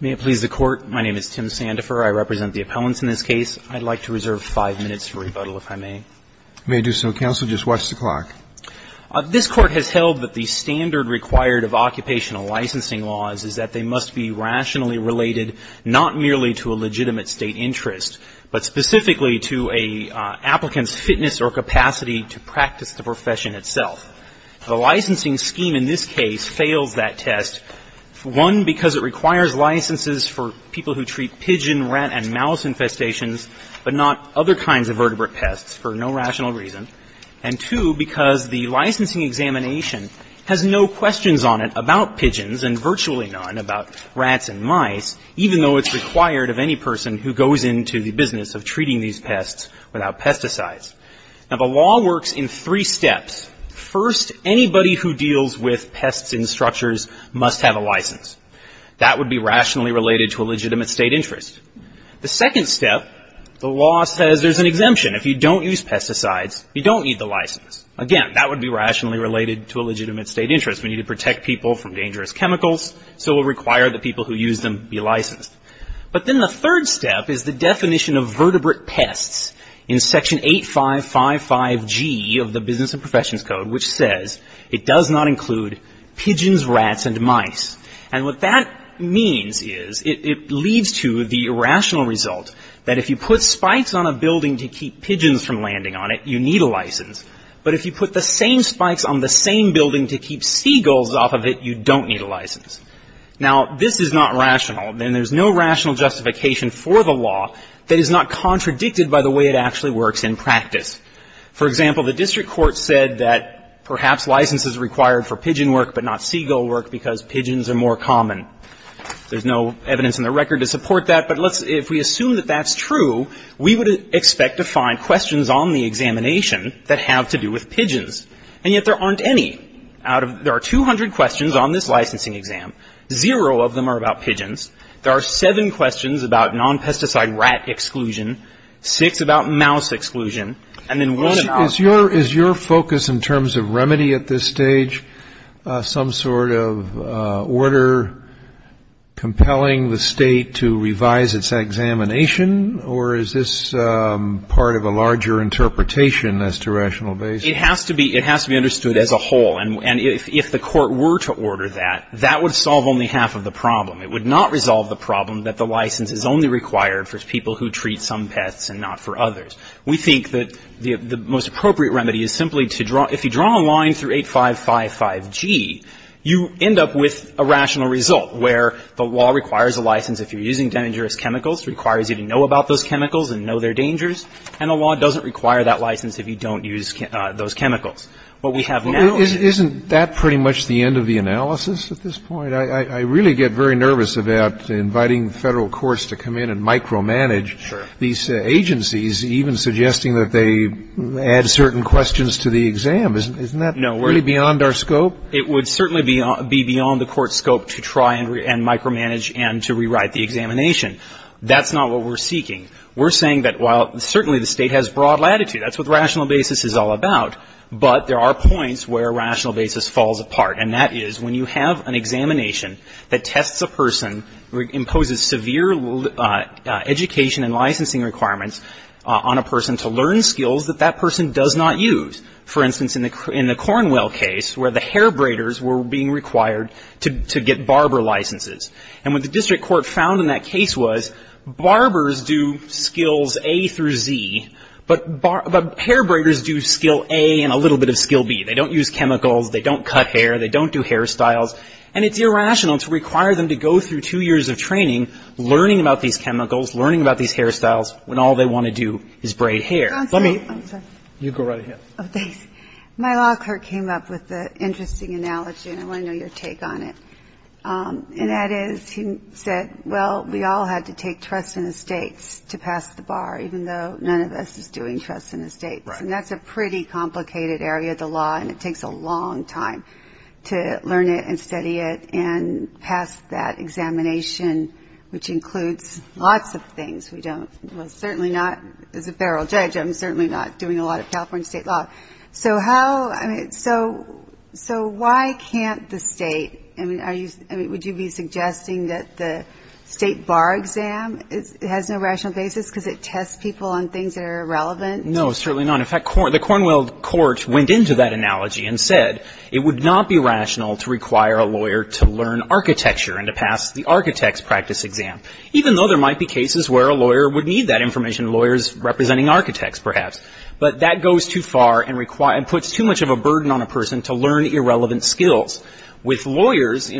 May it please the Court, my name is Tim Sandefur. I represent the appellants in this case. I'd like to reserve five minutes for rebuttal, if I may. May it do so, counsel. Just watch the clock. This Court has held that the standard required of occupational licensing laws is that they must be rationally related, not merely to a legitimate State interest, but specifically to an applicant's fitness or capacity to practice the profession itself. The licensing scheme in this case fails that test, one, because it requires licenses for people who treat pigeon, rat, and mouse infestations, but not other kinds of vertebrate pests for no rational reason, and two, because the licensing examination has no questions on it about pigeons and virtually none about rats and mice, even though it's required of any person who goes into the business of treating these pests without pesticides. Now, the law works in three steps. First, anybody who deals with pests in structures must have a license. That would be rationally related to a legitimate State interest. The second step, the law says there's an exemption. If you don't use pesticides, you don't need the license. Again, that would be rationally related to a legitimate State interest. We need to protect people from dangerous chemicals, so we'll require the people who use them be licensed. But then the third step is the definition of vertebrate pests in Section 8555G of the Business and Professions Code, which says it does not include pigeons, rats, and mice, and what that means is it leads to the irrational result that if you put spikes on a building to keep pigeons from landing on it, you need a license, but if you put the same spikes on the same building to keep seagulls off of it, you don't need a license. Now, this is not rational, and there's no rational justification for the law that is not contradicted by the way it actually works in practice. For example, the district court said that perhaps license is required for pigeon work, but not seagull work because pigeons are more common. There's no evidence in the record to support that, but let's, if we assume that that's true, we would expect to find questions on the examination that have to do with pigeons, and yet there aren't any. There are 200 questions on this licensing exam. Zero of them are about pigeons. There are seven questions about non-pesticide rat exclusion, six about mouse exclusion, and then one and a half. Is your focus in terms of remedy at this stage some sort of order compelling the state to revise its examination, or is this part of a larger interpretation as to rational basis? It has to be understood as a whole, and if the court were to order that, that would solve only half of the problem. It would not resolve the problem that the license is only required for people who treat some pests and not for others. We think that the most appropriate remedy is simply to draw, if you draw a line through 8555G, you end up with a rational result where the law requires a license if you're using dangerous chemicals, requires you to know about those chemicals and know their dangers, and the law doesn't require that license if you don't use those chemicals. But we have now an issue. Isn't that pretty much the end of the analysis at this point? I really get very nervous about inviting Federal courts to come in and micromanage these agencies, even suggesting that they add certain questions to the exam. Isn't that really beyond our scope? It would certainly be beyond the court's scope to try and micromanage and to rewrite the examination. That's not what we're seeking. We're saying that while certainly the State has broad latitude, that's what rational basis is all about, but there are points where rational basis falls apart, and that is when you have an examination that tests a person, imposes severe education and licensing requirements on a person to learn skills that that person does not use. For instance, in the Cornwell case where the hair braiders were being required to get barber licenses. And what the district court found in that case was, barbers do skills A through Z, but hair braiders do skill A and a little bit of skill B. They don't use chemicals, they don't cut hair, they don't do hairstyles, and it's irrational to require them to go through two years of training, learning about these chemicals, learning about these hairstyles, when all they want to do is braid hair. Let me go right ahead. My law court came up with an interesting analogy, and I want to know your take on it. And that is, he said, well, we all had to take trust in the States to pass the bar, even though none of us is doing trust in the States. And that's a pretty complicated area of the law, and it takes a long time to learn it and study it and pass that examination, which includes lots of things. We don't, well, certainly not, as a federal judge, I'm certainly not doing a lot of California State law. So how, I mean, so why can't the State, I mean, would you be suggesting that the State bar exam has no rational basis because it tests people on things that are irrelevant? No, certainly not. In fact, the Cornwell court went into that analogy and said, it would not be rational to require a lawyer to learn architecture and to pass the architect's practice exam, even though there might be cases where a lawyer would need that information, lawyers representing architects, perhaps. But that goes too far and puts too much of a burden on a person to learn irrelevant skills. With lawyers,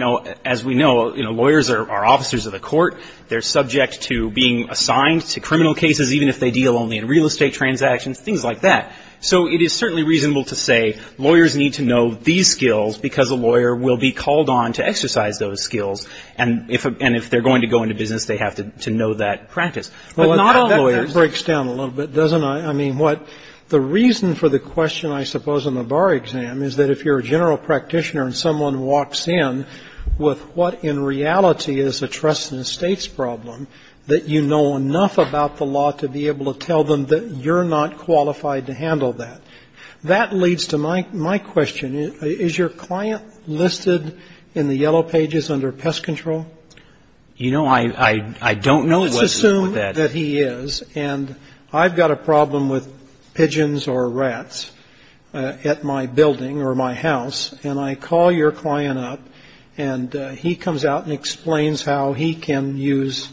as we know, lawyers are officers of the court. They're subject to being assigned to criminal cases, even if they deal only in real estate transactions, things like that. So it is certainly reasonable to say, lawyers need to know these skills because a lawyer will be called on to exercise those skills. And if they're going to go into business, they have to know that practice. But not all lawyers. Breaks down a little bit, doesn't I? I mean, what the reason for the question, I suppose, on the bar exam is that if you're a general practitioner and someone walks in with what, in reality, is a trust in the State's problem, that you know enough about the law to be able to tell them that you're not qualified to handle that. That leads to my my question. Is your client listed in the yellow pages under pest control? You know, I don't know. Let's assume that he is, and I've got a problem with pigeons or rats at my building or my house. And I call your client up, and he comes out and explains how he can use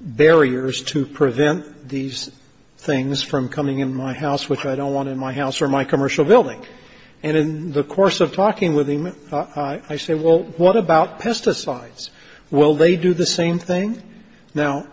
barriers to prevent these things from coming in my house, which I don't want in my house or my commercial building. And in the course of talking with him, I say, well, what about pesticides? Will they do the same thing? Now,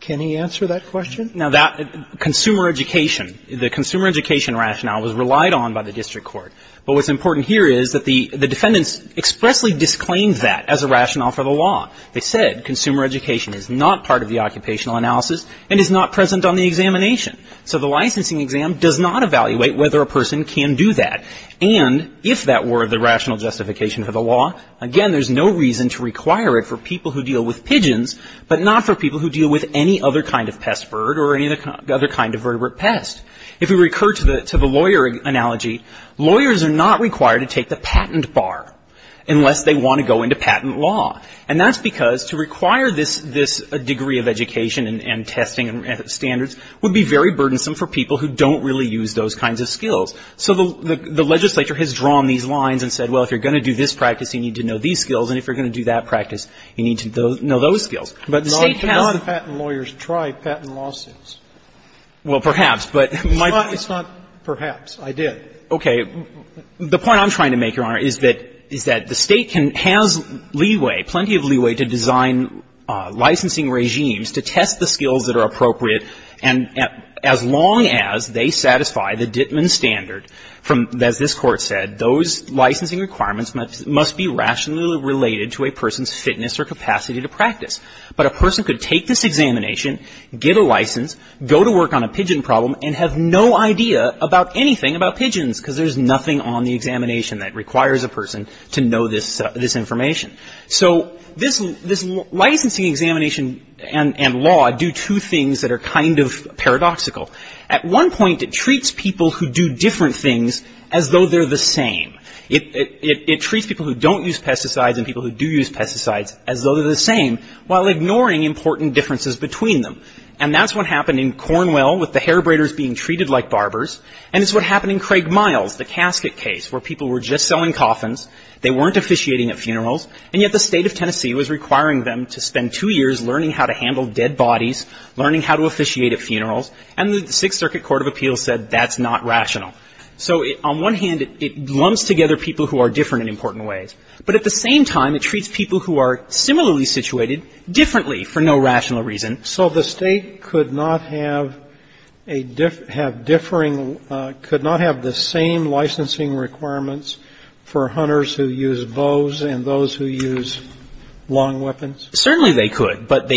can he answer that question? Now, that consumer education, the consumer education rationale was relied on by the district court. But what's important here is that the defendants expressly disclaimed that as a rationale for the law. They said consumer education is not part of the occupational analysis and is not present on the examination. So the licensing exam does not evaluate whether a person can do that. And if that were the rational justification for the law, again, there's no reason to require it for people who deal with pigeons, but not for people who deal with any other kind of pest bird or any other kind of vertebrate pest. If we recur to the lawyer analogy, lawyers are not required to take the patent bar unless they want to go into patent law. And that's because to require this degree of education and testing and standards would be very burdensome for people who don't really use those kinds of skills. So the legislature has drawn these lines and said, well, if you're going to do this practice, you need to know these skills, and if you're going to do that practice, you need to know those skills. Sotomayor, I cannot patent lawyers try patent lawsuits. Well, perhaps, but my point is not perhaps. I did. Okay. The point I'm trying to make, Your Honor, is that the State has leeway, plenty of leeway, to design licensing regimes to test the skills that are appropriate. And as long as they satisfy the Dittman standard, as this Court said, those licensing requirements must be rationally related to a person's fitness or capacity to practice. But a person could take this examination, get a license, go to work on a pigeon problem, and have no idea about anything about pigeons because there's nothing on the examination that requires a person to know this information. So this licensing examination and law do two things that are kind of paradoxical. At one point, it treats people who do different things as though they're the same. It treats people who don't use pesticides and people who do use pesticides as though they're the same while ignoring important differences between them. And that's what happened in Cornwell with the hair braiders being treated like barbers. And it's what happened in Craig Miles, the casket case, where people were just selling coffins, they weren't officiating at funerals, and yet the State of Tennessee was requiring them to spend two years learning how to handle dead bodies, learning how to officiate at funerals, and the Sixth Circuit Court of Appeals said that's not rational. So on one hand, it lumps together people who are different in important ways. But at the same time, it treats people who are similarly situated differently for no rational reason. So the State could not have a differing, could not have the same licensing requirements for hunters who use bows and those who use long weapons? Certainly they could, but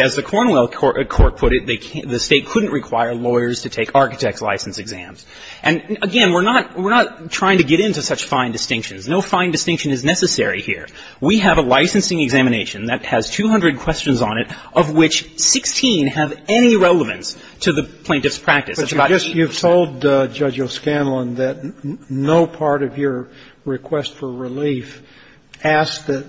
as the Cornwell court put it, the State couldn't require lawyers to take architect's license exams. And again, we're not trying to get into such fine distinctions. No fine distinction is necessary here. We have a licensing examination that has 200 questions on it, of which 16 have any relevance to the plaintiff's practice. It's about you. But you've told Judge O'Scanlan that no part of your request for relief asks that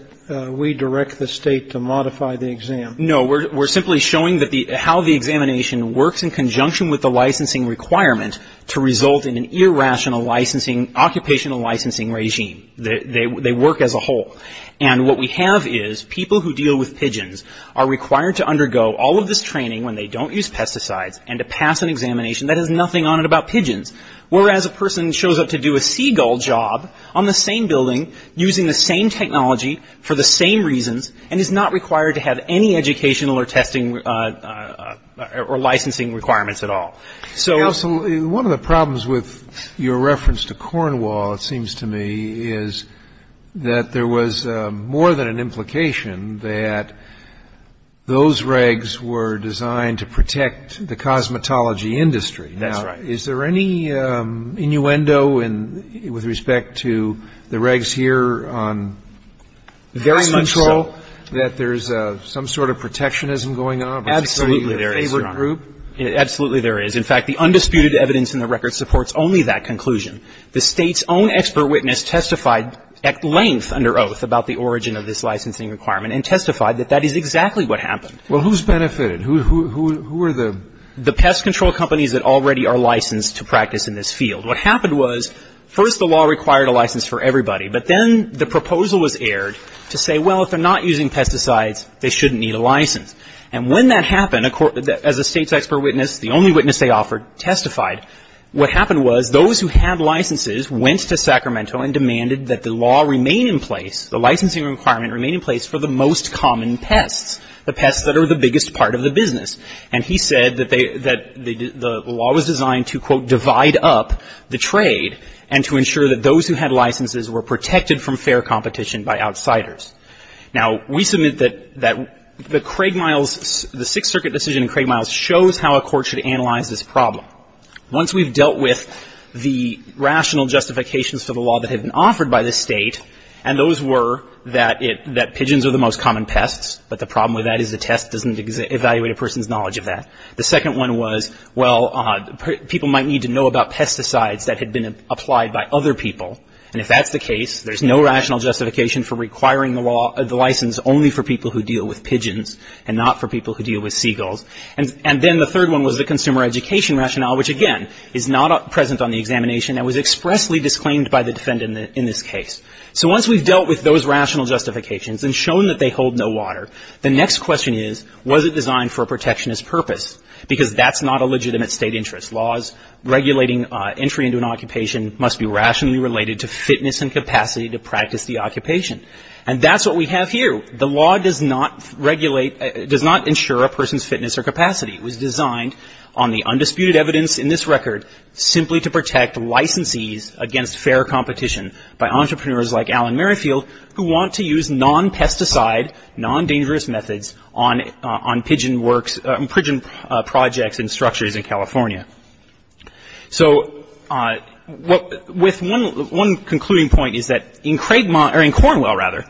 we direct the State to modify the exam. No. We're simply showing how the examination works in conjunction with the licensing requirement to result in an irrational licensing, occupational licensing regime. They work as a whole. And what we have is people who deal with pigeons are required to undergo all of this training when they don't use pesticides and to pass an examination that has nothing on it about pigeons, whereas a person shows up to do a seagull job on the same building using the same technology for the same reasons and is not required to have any educational or testing or licensing requirements at all. So one of the problems with your reference to Cornwall, it seems to me, is that there was more than an implication that those regs were designed to protect the cosmetology industry. That's right. Is there any innuendo with respect to the regs here on very little control that there's some sort of protectionism going on? Absolutely. There is, Your Honor. Absolutely there is. In fact, the undisputed evidence in the record supports only that conclusion. The State's own expert witness testified at length under oath about the origin of this licensing requirement and testified that that is exactly what happened. Well, who's benefited? Who are the? The pest control companies that already are licensed to practice in this field. What happened was, first the law required a license for everybody, but then the proposal was aired to say, well, if they're not using pesticides, they shouldn't need a license. And when that happened, as the State's expert witness, the only witness they offered testified, what happened was those who had licenses went to Sacramento and demanded that the law remain in place, the licensing requirement remain in place for the most common pests, the pests that are the biggest part of the business. And he said that they, that the law was designed to, quote, divide up the trade and to ensure that those who had licenses were protected from fair competition by outsiders. Now, we submit that, that the Craig Miles, the Sixth Circuit decision in Craig Miles shows how a court should analyze this problem. Once we've dealt with the rational justifications for the law that had been offered by the State, and those were that it, that pigeons are the most common pests, but the problem with that is the test doesn't evaluate a person's knowledge of that. The second one was, well, people might need to know about pesticides that had been applied by other people, and if that's the case, there's no rational justification for requiring the law, the license only for people who deal with pigeons and not for people who deal with seagulls. And then the third one was the consumer education rationale, which, again, is not present on the examination and was expressly disclaimed by the defendant in this case. So once we've dealt with those rational justifications and shown that they hold no water, the next question is, was it designed for a protectionist purpose? Because that's not a legitimate State interest. Laws regulating entry into an occupation must be rationally related to fitness and competition. And that's what we have here. The law does not regulate, does not ensure a person's fitness or capacity. It was designed on the undisputed evidence in this record simply to protect licensees against fair competition by entrepreneurs like Alan Merrifield who want to use non-pesticide, non-dangerous methods on pigeon works, on pigeon projects and structures in California. So with one concluding point is that in Craigmont or in Cornwell, rather,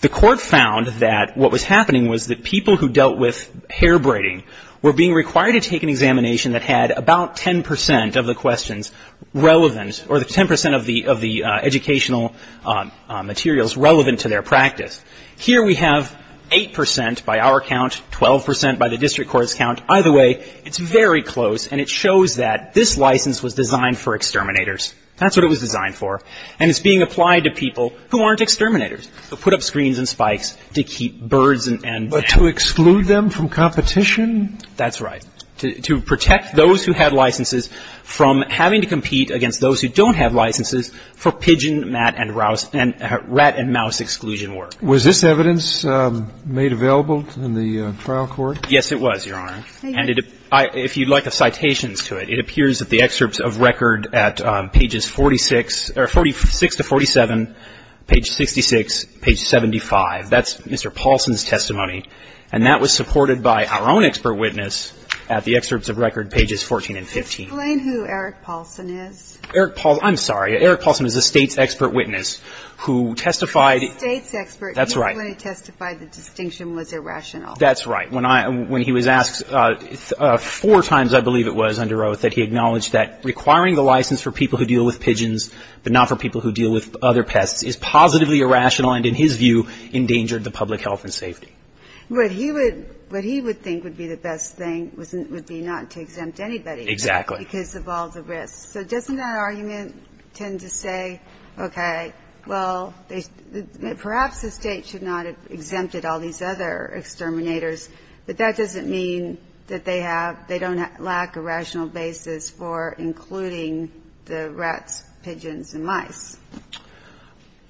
the court found that what was happening was that people who dealt with hair braiding were being required to take an examination that had about 10 percent of the questions relevant or the 10 percent of the educational materials relevant to their practice. Here we have 8 percent by our count, 12 percent by the district court's count. Either way, it's very close, and it shows that this license was designed for exterminators. That's what it was designed for. And it's being applied to people who aren't exterminators, who put up screens and spikes to keep birds and mammals. But to exclude them from competition? That's right. To protect those who had licenses from having to compete against those who don't have licenses for pigeon, rat and mouse exclusion work. Was this evidence made available in the trial court? Yes, it was, Your Honor. And if you'd like the citations to it, it appears at the excerpts of record at pages 46 or 46 to 47, page 66, page 75. That's Mr. Paulson's testimony, and that was supported by our own expert witness at the excerpts of record pages 14 and 15. Explain who Eric Paulson is. Eric Paulson. I'm sorry. Eric Paulson is a State's expert witness who testified. A State's expert. That's right. He testified the distinction was irrational. That's right. When he was asked four times, I believe it was, under oath, that he acknowledged that requiring the license for people who deal with pigeons but not for people who deal with other pests is positively irrational and, in his view, endangered the public health and safety. What he would think would be the best thing would be not to exempt anybody. Exactly. Because of all the risks. So doesn't that argument tend to say, okay, well, perhaps the State should not have But that doesn't mean that they have they don't lack a rational basis for including the rats, pigeons, and mice.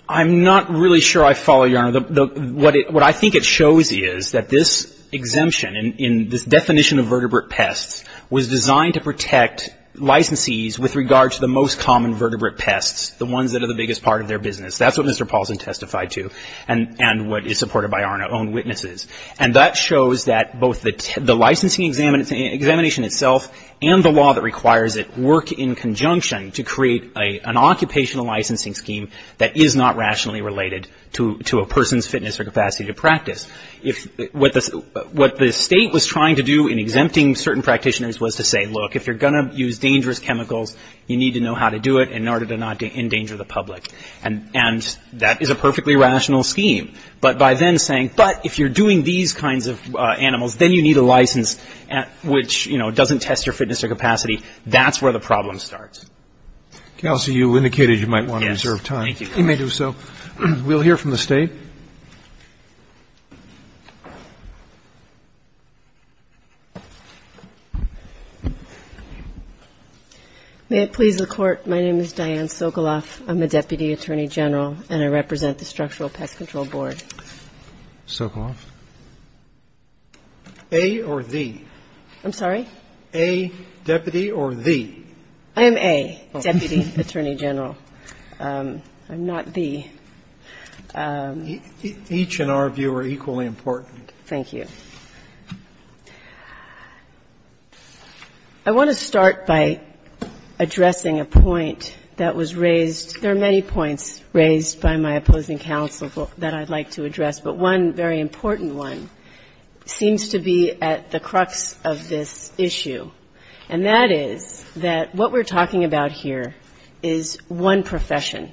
I'm not really sure I follow, Your Honor. What I think it shows you is that this exemption in this definition of vertebrate pests was designed to protect licensees with regard to the most common vertebrate pests, the ones that are the biggest part of their business. That's what Mr. Paulson testified to and what is supported by our own witnesses. And that shows that both the licensing examination itself and the law that requires it work in conjunction to create an occupational licensing scheme that is not rationally related to a person's fitness or capacity to practice. What the State was trying to do in exempting certain practitioners was to say, look, if you're going to use dangerous chemicals, you need to know how to do it in order to not endanger the public. And that is a perfectly rational scheme. But by then saying, but if you're doing these kinds of animals, then you need a license which, you know, doesn't test your fitness or capacity. That's where the problem starts. Okay. I'll see you. You indicated you might want to reserve time. Yes. Thank you. You may do so. We'll hear from the State. May it please the Court. My name is Diane Sokoloff. I'm a Deputy Attorney General, and I represent the Structural Pest Control Board. Sokoloff. A or the? I'm sorry? A, deputy, or the? I am A, Deputy Attorney General. I'm not the. Each in our view are equally important. Thank you. I want to start by addressing a point that was raised. There are many points raised by my opposing counsel that I'd like to address, but one very important one seems to be at the crux of this issue, and that is that what we're talking about here is one profession.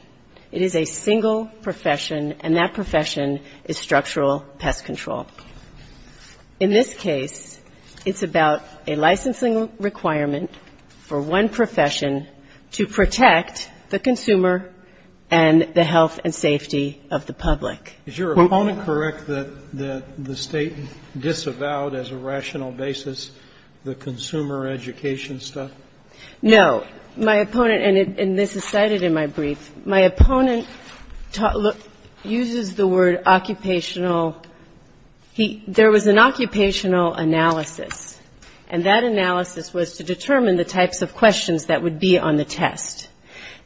It is a single profession, and that profession is structural pest control. In this case, it's about a licensing requirement for one profession to protect the consumer and the health and safety of the public. Is your opponent correct that the State disavowed as a rational basis the consumer education stuff? No. My opponent, and this is cited in my brief, my opponent uses the word occupational. There was an occupational analysis, and that analysis was to determine the types of questions that would be on the test.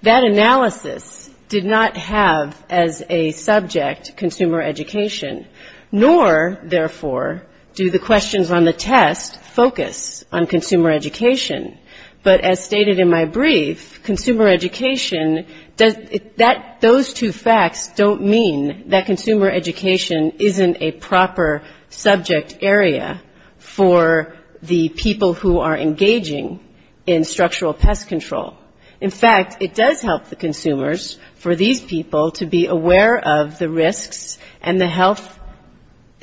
That analysis did not have as a subject consumer education, nor, therefore, do the questions on the test focus on consumer education. But as stated in my brief, consumer education, those two facts don't mean that consumer education isn't a proper subject area for the people who are engaging in structural pest control. In fact, it does help the consumers for these people to be aware of the risks and the health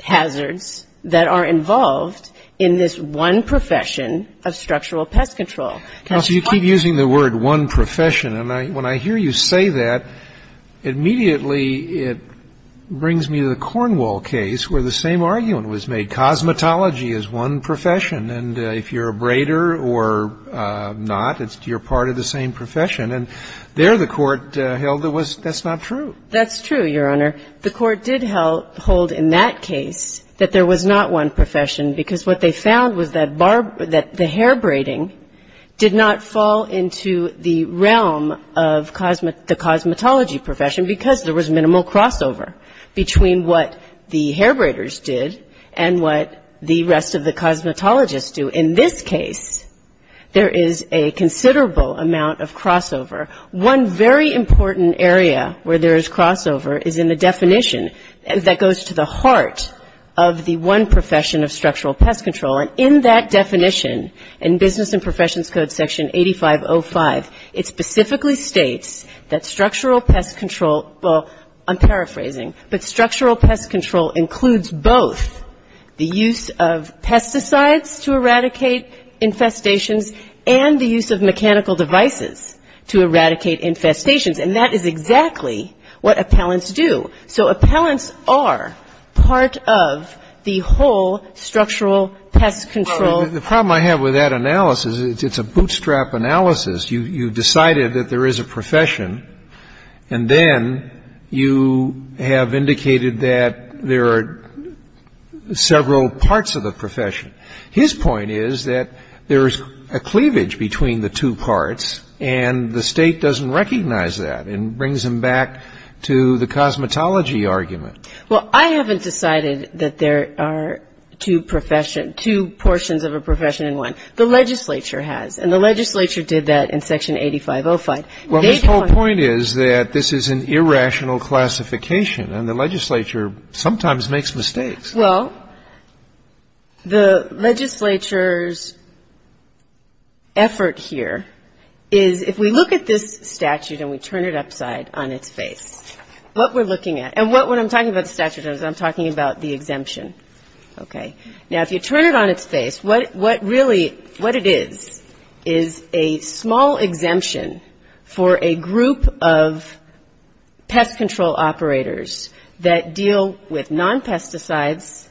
hazards that are involved in this one profession of structural pest control. Counsel, you keep using the word one profession, and when I hear you say that, immediately it brings me to the Cornwall case where the same argument was made. Cosmetology is one profession, and if you're a braider or not, you're part of the same profession, and there the Court held that that's not true. That's true, Your Honor. The Court did hold in that case that there was not one profession because what they found was that the hair braiding did not fall into the realm of the cosmetology profession because there was minimal crossover between what the hair braiders did and what the rest of the cosmetologists do. But in this case, there is a considerable amount of crossover. One very important area where there is crossover is in the definition that goes to the heart of the one profession of structural pest control, and in that definition in Business and Professions Code Section 8505, it specifically states that structural pest control, well, I'm paraphrasing, but structural pest control includes both the use of pesticides to eradicate infestations and the use of mechanical devices to eradicate infestations, and that is exactly what appellants do. So appellants are part of the whole structural pest control. The problem I have with that analysis is it's a bootstrap analysis. You decided that there is a profession, and then you have indicated that there are several parts of the profession. His point is that there is a cleavage between the two parts, and the State doesn't recognize that, and brings him back to the cosmetology argument. Well, I haven't decided that there are two professions, two portions of a profession in one. The legislature has, and the legislature did that in Section 8505. Well, his whole point is that this is an irrational classification, and the legislature sometimes makes mistakes. Well, the legislature's effort here is if we look at this statute and we turn it upside on its face, what we're looking at, and when I'm talking about the statute, I'm talking about the exemption. Okay. Now, if you turn it on its face, what really, what it is, is a small exemption for a group of pest control operators that deal with non-pesticides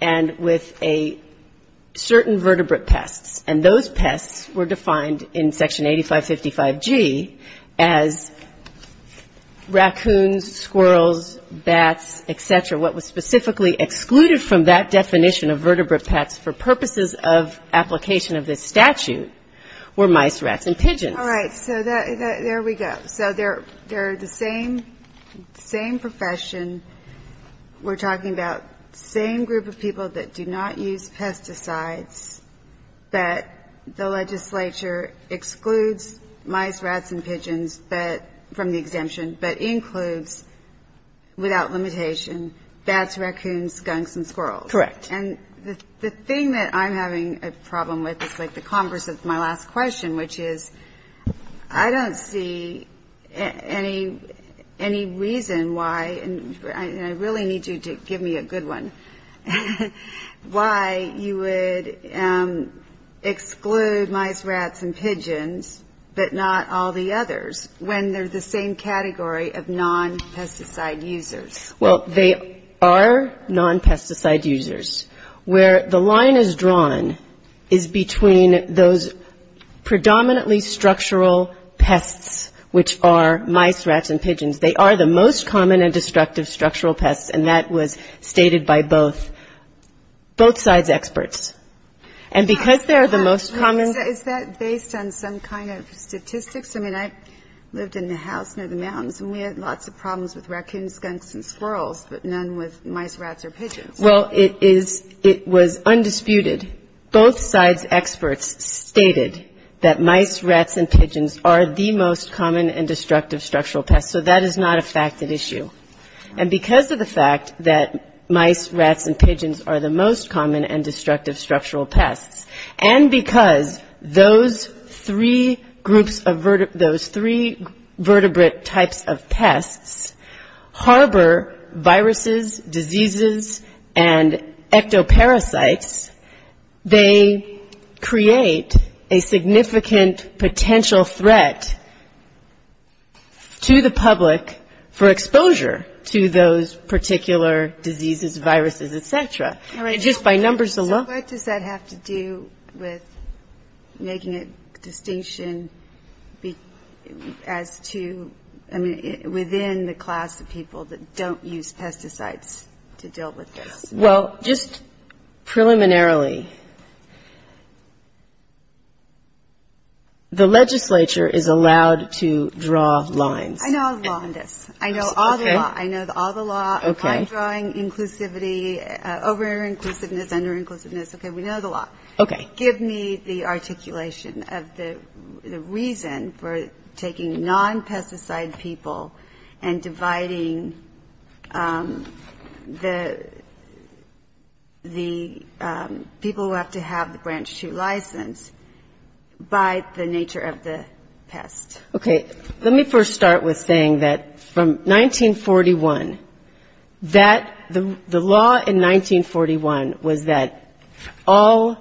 and with a certain vertebrate pests, and those pests were defined in Section 8555G as raccoons, squirrels, bats, et cetera, what was specifically excluded from that definition of vertebrate pests for purposes of application of this statute were mice, rats, and pigeons. All right. So there we go. So they're the same profession. We're talking about the same group of people that do not use pesticides, but the legislature excludes mice, rats, and pigeons from the exemption, but includes without limitation bats, raccoons, skunks, and squirrels. Correct. And the thing that I'm having a problem with is like the converse of my last question, which is I don't see any reason why, and I really need you to give me a good one, why you would exclude mice, rats, and pigeons, but not all the others when they're the same category of non-pesticide users. Well, they are non-pesticide users. Where the line is drawn is between those predominantly structural pests, which are mice, rats, and pigeons. They are the most common and destructive structural pests, and that was stated by both sides' experts. And because they're the most common ---- And is that based on some kind of statistics? I mean, I lived in a house near the mountains, and we had lots of problems with raccoons, skunks, and squirrels, but none with mice, rats, or pigeons. Well, it is ---- it was undisputed. Both sides' experts stated that mice, rats, and pigeons are the most common and destructive structural pests, so that is not a facted issue. And because of the fact that mice, rats, and pigeons are the most common and destructive structural pests, those three groups of ---- those three vertebrate types of pests harbor viruses, diseases, and ectoparasites, they create a significant potential threat to the public for exposure to those particular diseases, viruses, et cetera. And just by numbers alone ---- So what does that have to do with making a distinction as to, I mean, within the class of people that don't use pesticides to deal with this? Well, just preliminarily, the legislature is allowed to draw lines. I know all the law on this. I know all the law. I know all the law on line drawing, inclusivity, over and over again. Under-inclusiveness, under-inclusiveness, okay, we know the law. Okay. Give me the articulation of the reason for taking non-pesticide people and dividing the people who have to have the branch two license by the nature of the pest. Okay. Let me first start with saying that from 1941, that the law in 1941 was that all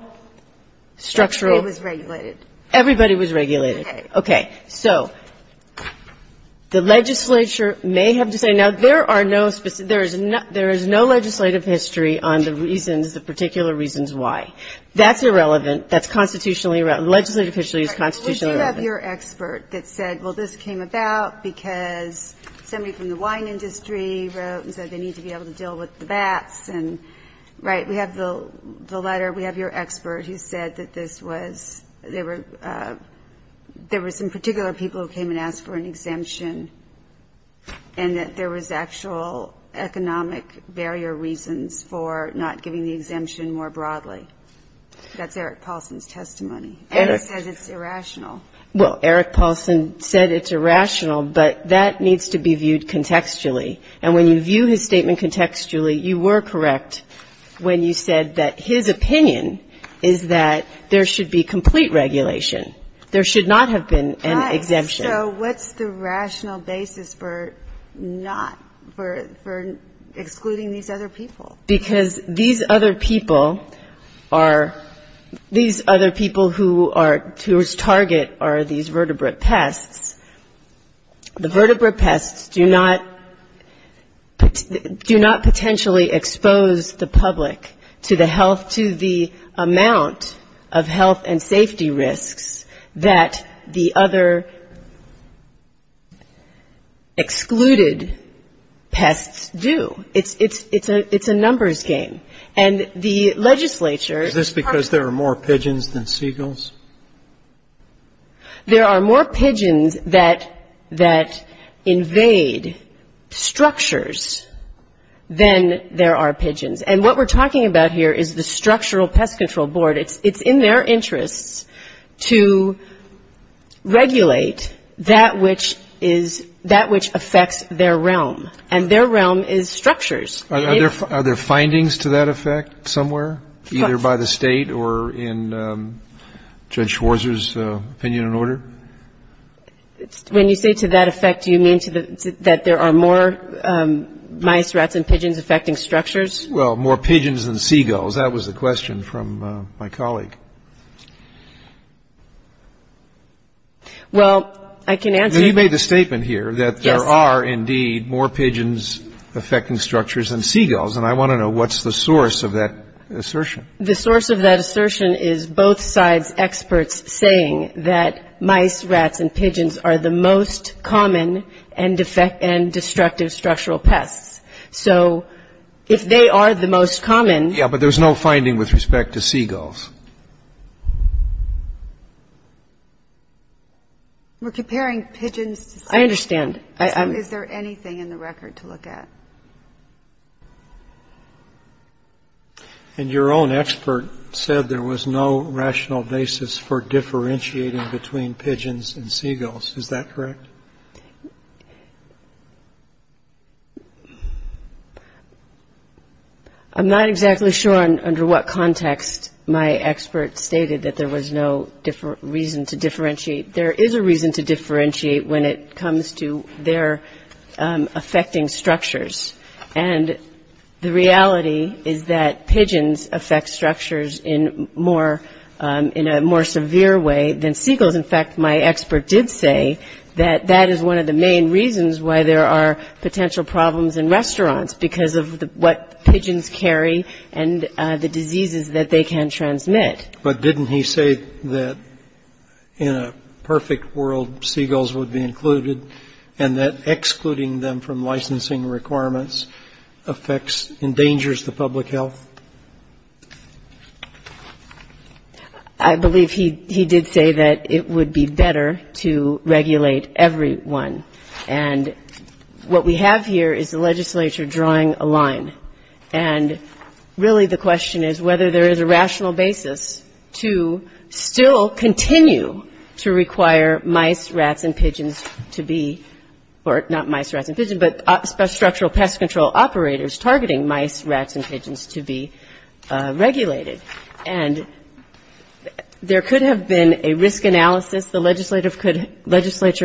structural ---- Everybody was regulated. Everybody was regulated. Okay. So the legislature may have to say, now, there are no specific ---- there is no legislative history on the reasons, the particular reasons why. That's irrelevant. That's constitutionally irrelevant. Legislative history is constitutionally irrelevant. Okay. So you have your expert that said, well, this came about because somebody from the wine industry wrote and said they need to be able to deal with the bats, and, right, we have the letter. We have your expert who said that this was ---- there were some particular people who came and asked for an exemption and that there was actual economic barrier reasons for not giving the exemption more broadly. That's Eric Paulson's testimony. And he said it's irrational. Well, Eric Paulson said it's irrational, but that needs to be viewed contextually. And when you view his statement contextually, you were correct when you said that his opinion is that there should be complete regulation. There should not have been an exemption. Right. So what's the rational basis for not ---- for excluding these other people? Because these other people are ---- these other people who are ---- whose target are these vertebrate pests, the vertebrate pests do not potentially expose the public to the health ---- to the amount of health and safety risks that the other excluded pests do. It's a number. It's a numbers game. And the legislature ---- Is this because there are more pigeons than seagulls? There are more pigeons that invade structures than there are pigeons. And what we're talking about here is the Structural Pest Control Board. It's in their interests to regulate that which is ---- that which affects their realm. And their realm is structures. Are there findings to that effect somewhere, either by the State or in Judge Schwarzer's opinion and order? When you say to that effect, do you mean to the ---- that there are more mice, rats and pigeons affecting structures? Well, more pigeons than seagulls. That was the question from my colleague. Well, I can answer ---- and I want to know what's the source of that assertion. The source of that assertion is both sides' experts saying that mice, rats and pigeons are the most common and destructive structural pests. So if they are the most common ---- Yeah, but there's no finding with respect to seagulls. We're comparing pigeons to seagulls. And your own expert said there was no rational basis for differentiating between pigeons and seagulls. Is that correct? I'm not exactly sure under what context my expert stated that there was no reason to differentiate. There is a reason to differentiate when it comes to their affecting structures. And the reality is that pigeons affect structures in a more severe way than seagulls. In fact, my expert did say that that is one of the main reasons why there are potential problems in restaurants, because of what pigeons carry and the diseases that they can transmit. But didn't he say that in a perfect world, seagulls would be included, and that excluding them from licensing requirements, affects, endangers the public health? I believe he did say that it would be better to regulate everyone. And what we have here is the legislature drawing a line. And really the question is whether there is a rational basis to still continue to require mice, rats and pigeons to be, or not mice, rats and pigeons, but structural pest control operators targeting mice, rats and pigeons to be regulated. And there could have been a risk analysis. The legislature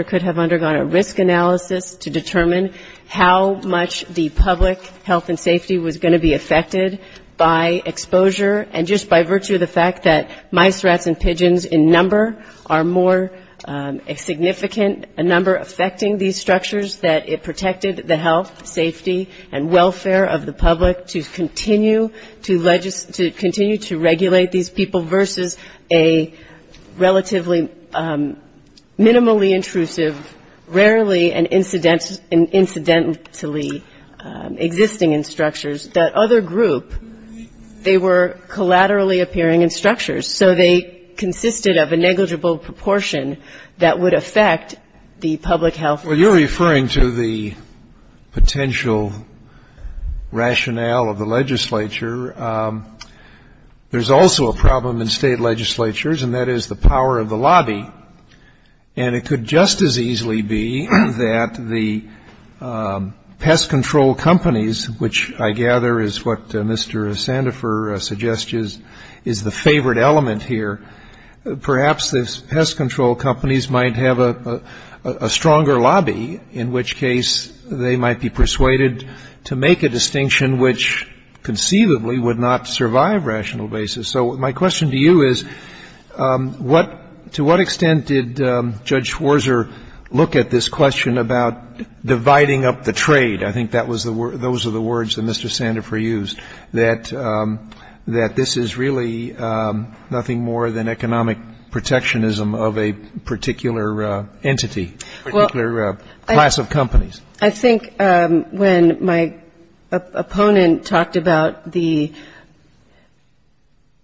could have undergone a risk analysis to determine how much the public health and safety was going to be affected by exposure, and just by virtue of the fact that mice, rats and pigeons in number are more significant, a number affecting these structures, that it protected the health, safety and welfare of the public to continue to legislate, to continue to regulate these people versus a relatively minimally intrusive, rarely and incidentally existing in structures, that other group, they were collaterally appearing in structures. So they consisted of a negligible proportion that would affect the public health. Well, you're referring to the potential rationale of the legislature. There's also a problem in state legislatures, and that is the power of the lobby. And it could just as easily be that the pest control companies, which I gather is what Mr. Sandifer suggests is the favorite element here, perhaps the pest control companies might have a stronger lobby, in which case they might be persuaded to make a distinction which conceivably would not survive rational basis. So my question to you is, to what extent did Judge Schwarzer look at this question about dividing up the trade? I think that was the word, those are the words that Mr. Sandifer used, that this is really, you know, nothing more than economic protectionism of a particular entity, particular class of companies. I think when my opponent talked about the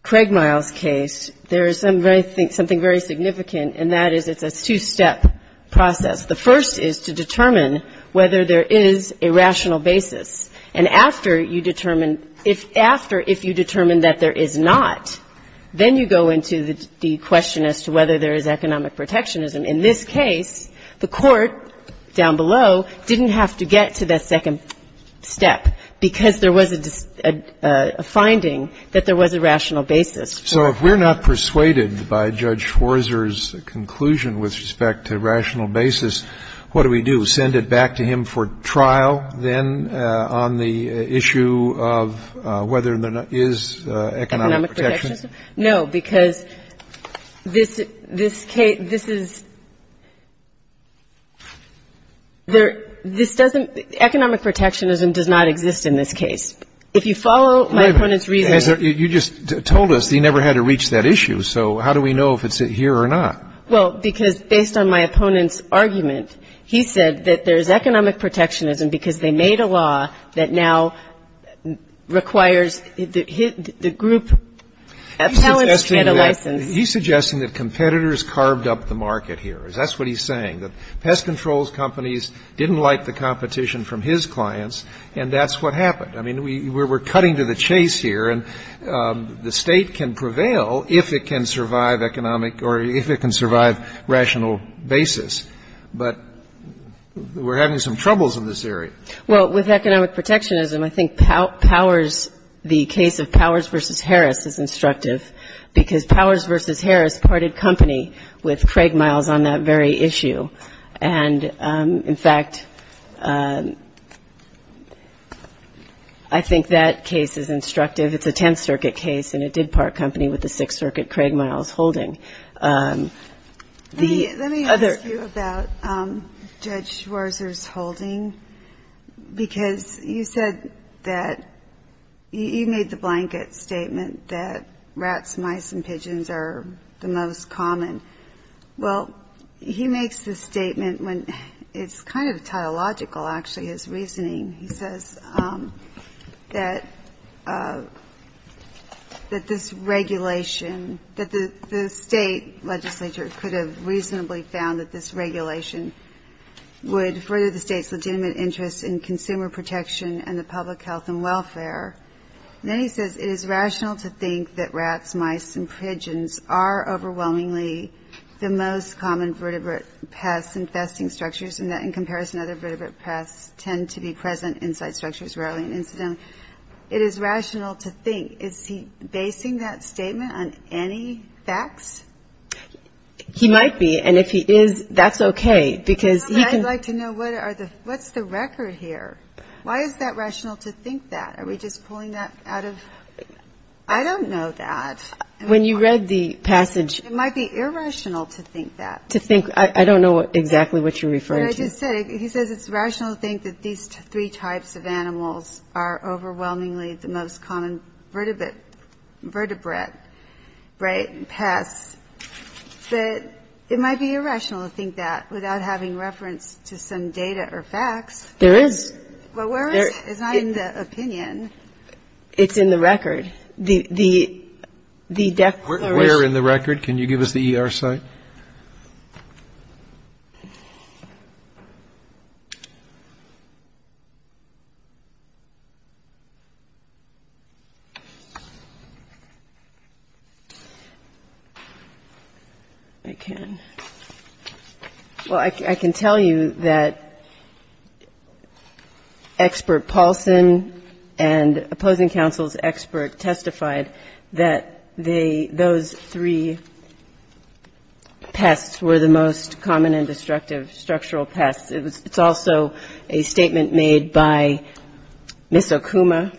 Craig Miles case, there is something very significant, and that is it's a two-step process. The first is to determine whether there is a rational basis. And after you determine that there is not, then you go into the question as to whether there is economic protectionism. In this case, the court down below didn't have to get to that second step, because there was a finding that there was a rational basis. So if we're not persuaded by Judge Schwarzer's conclusion with respect to rational basis, what do we do? Send it back to him for trial, then, on the issue of whether there is economic protectionism? No, because this case, this is, this doesn't, economic protectionism does not exist in this case. If you follow my opponent's reasoning You just told us he never had to reach that issue, so how do we know if it's here or not? Well, because based on my opponent's argument, he said that there is economic protectionism because they made a law that now requires the group, the talents get a license. He's suggesting that competitors carved up the market here. That's what he's saying, that pest control companies didn't like the competition from his clients, and that's what happened. I mean, we're cutting to the chase here, and the State can prevail if it can survive economic, or if it can survive rational basis, but we're having some troubles in this area. Well, with economic protectionism, I think Powers, the case of Powers v. Harris is instructive, because Powers v. Harris parted company with Craig Miles on that very issue, and, in fact, it's a case where there is economic protectionism, and I think that case is instructive. It's a Tenth Circuit case, and it did part company with the Sixth Circuit, Craig Miles holding. Let me ask you about Judge Schwarzer's holding, because you said that, you made the blanket statement that rats, mice, and pigeons are the most common. Well, he makes this statement when it's kind of tautological, actually, his reasoning. He says that this regulation, that the State legislature could have reasonably found that this regulation would further the State's legitimate interest in consumer protection and the public health and welfare. And then he says, it is rational to think that rats, mice, and pigeons are overwhelmingly common. He says that rats, mice, and pigeons are the most common vertebrate pests infesting structures, and that, in comparison, other vertebrate pests tend to be present inside structures rarely and incidentally. It is rational to think. Is he basing that statement on any facts? He might be, and if he is, that's okay, because he can... What's the record here? Why is that rational to think that? Are we just pulling that out of... I don't know that. When you read the passage... It might be irrational to think that. Well, where is it? It's in the record. Where in the record? Can you give us the ER site? I can. Well, I can tell you that Expert Paulson and opposing counsel's expert testified that those three pests were the most common and destructive structural pests. It's also a statement made by Ms. Okuma.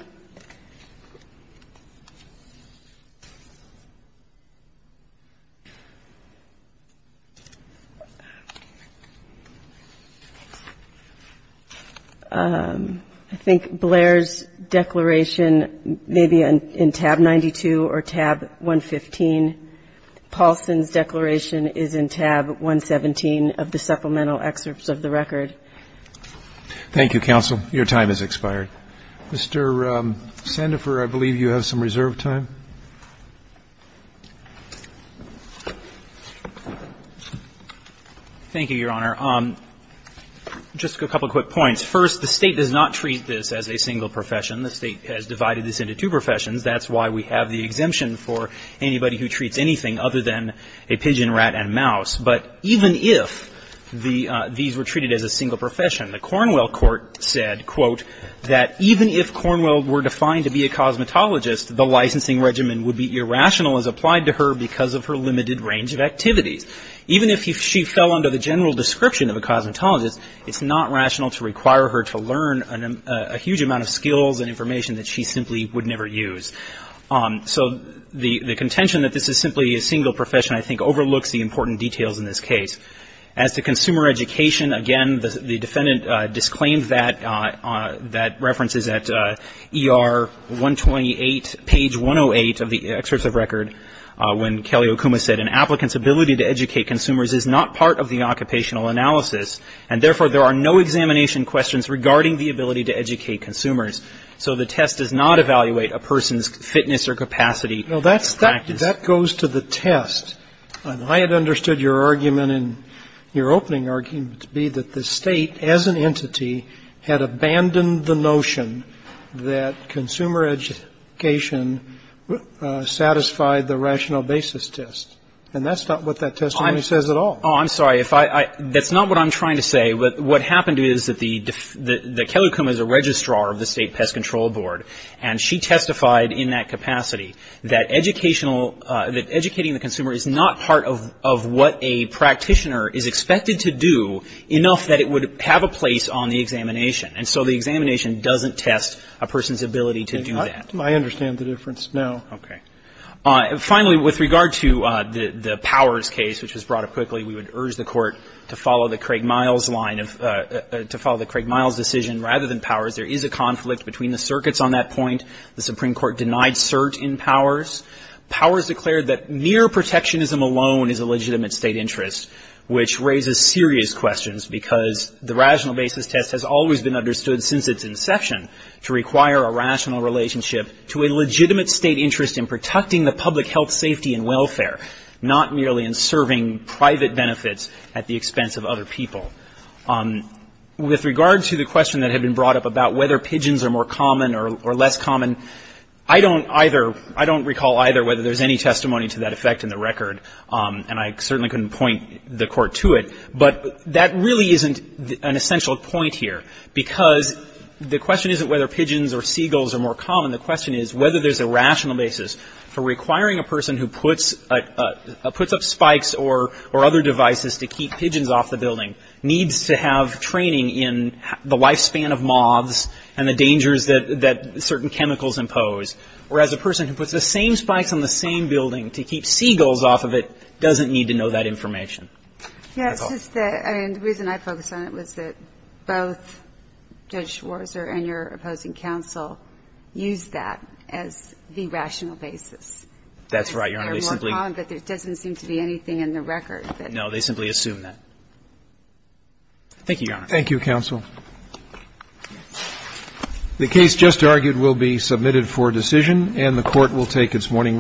I think Blair's declaration may be in tab 92 or tab 115. Paulson's declaration is in tab 117 of the supplemental excerpts of the record. Thank you, counsel. Your time has expired. Mr. Sandifer, I believe you have some reserve time. Thank you, Your Honor. Just a couple of quick points. First, the State does not treat this as a single profession. The State has divided this into two professions. That's why we have the exemption for anybody who treats anything other than a pigeon, rat, and mouse. But even if these were treated as a single profession, the Cornwell court said, quote, that even if Cornwell were defined to be a cosmetologist, the licensing regimen would be irrational as applied to her because of her limited range of activities. Even if she fell under the general description of a cosmetologist, it's not rational to require her to learn a huge amount of skills and information that she simply would never use. So the contention that this is simply a single profession, I think, overlooks the important details in this case. As to consumer education, again, the defendant disclaimed that references at ER 128, page 108 of the excerpts of record when Kelly Okuma said, an applicant's ability to educate consumers is not part of the occupational analysis, and therefore there are no examination questions regarding the ability to educate consumers. So the test does not evaluate a person's fitness or capacity. Now, that goes to the test. I had understood your argument in your opening argument to be that the State, as an entity, had abandoned the notion that consumer education satisfied the rational basis test, and that's not what that testimony says at all. Oh, I'm sorry. That's not what I'm trying to say. What happened is that Kelly Okuma is a registrar of the State Pest Control Board, and she testified in that capacity that educational, that educating the consumer is not part of what a practitioner is expected to do enough that it would have a place on the examination. And so the examination doesn't test a person's ability to do that. I understand the difference now. Okay. Finally, with regard to the Powers case, which was brought up quickly, we would urge the Court to follow the Craig Miles line of, to follow the Craig Miles decision rather than Powers. There is a conflict between the circuits on that point. The Supreme Court denied cert in Powers. Powers declared that mere protectionism alone is a legitimate State interest, which raises serious questions, because the rational basis test has always been understood since its inception to require a rational relationship to a legitimate State interest in protecting the public health, safety, and welfare, not merely in serving private benefits at the expense of other people. With regard to the question that had been brought up about whether pigeons are more common or less common, I don't either, I don't recall either whether there's any testimony to that effect in the record, and I certainly couldn't point the Court to it. But that really isn't an essential point here, because the question isn't whether pigeons or seagulls are more common. The question is whether there's a rational basis for requiring a person who puts up spikes or other devices to keep pigeons off the building needs to have training in the lifespan of moths and the dangers that certain chemicals impose, whereas a person who puts the same spikes on the same building to keep seagulls off of it doesn't need to know that information. Yes. I mean, the reason I focused on it was that both Judge Schwarzer and your opposing counsel used that as the rational basis. That's right, Your Honor. There's more common, but there doesn't seem to be anything in the record that. No, they simply assume that. Thank you, Your Honor. Thank you, counsel. The case just argued will be submitted for decision, and the Court will take its morning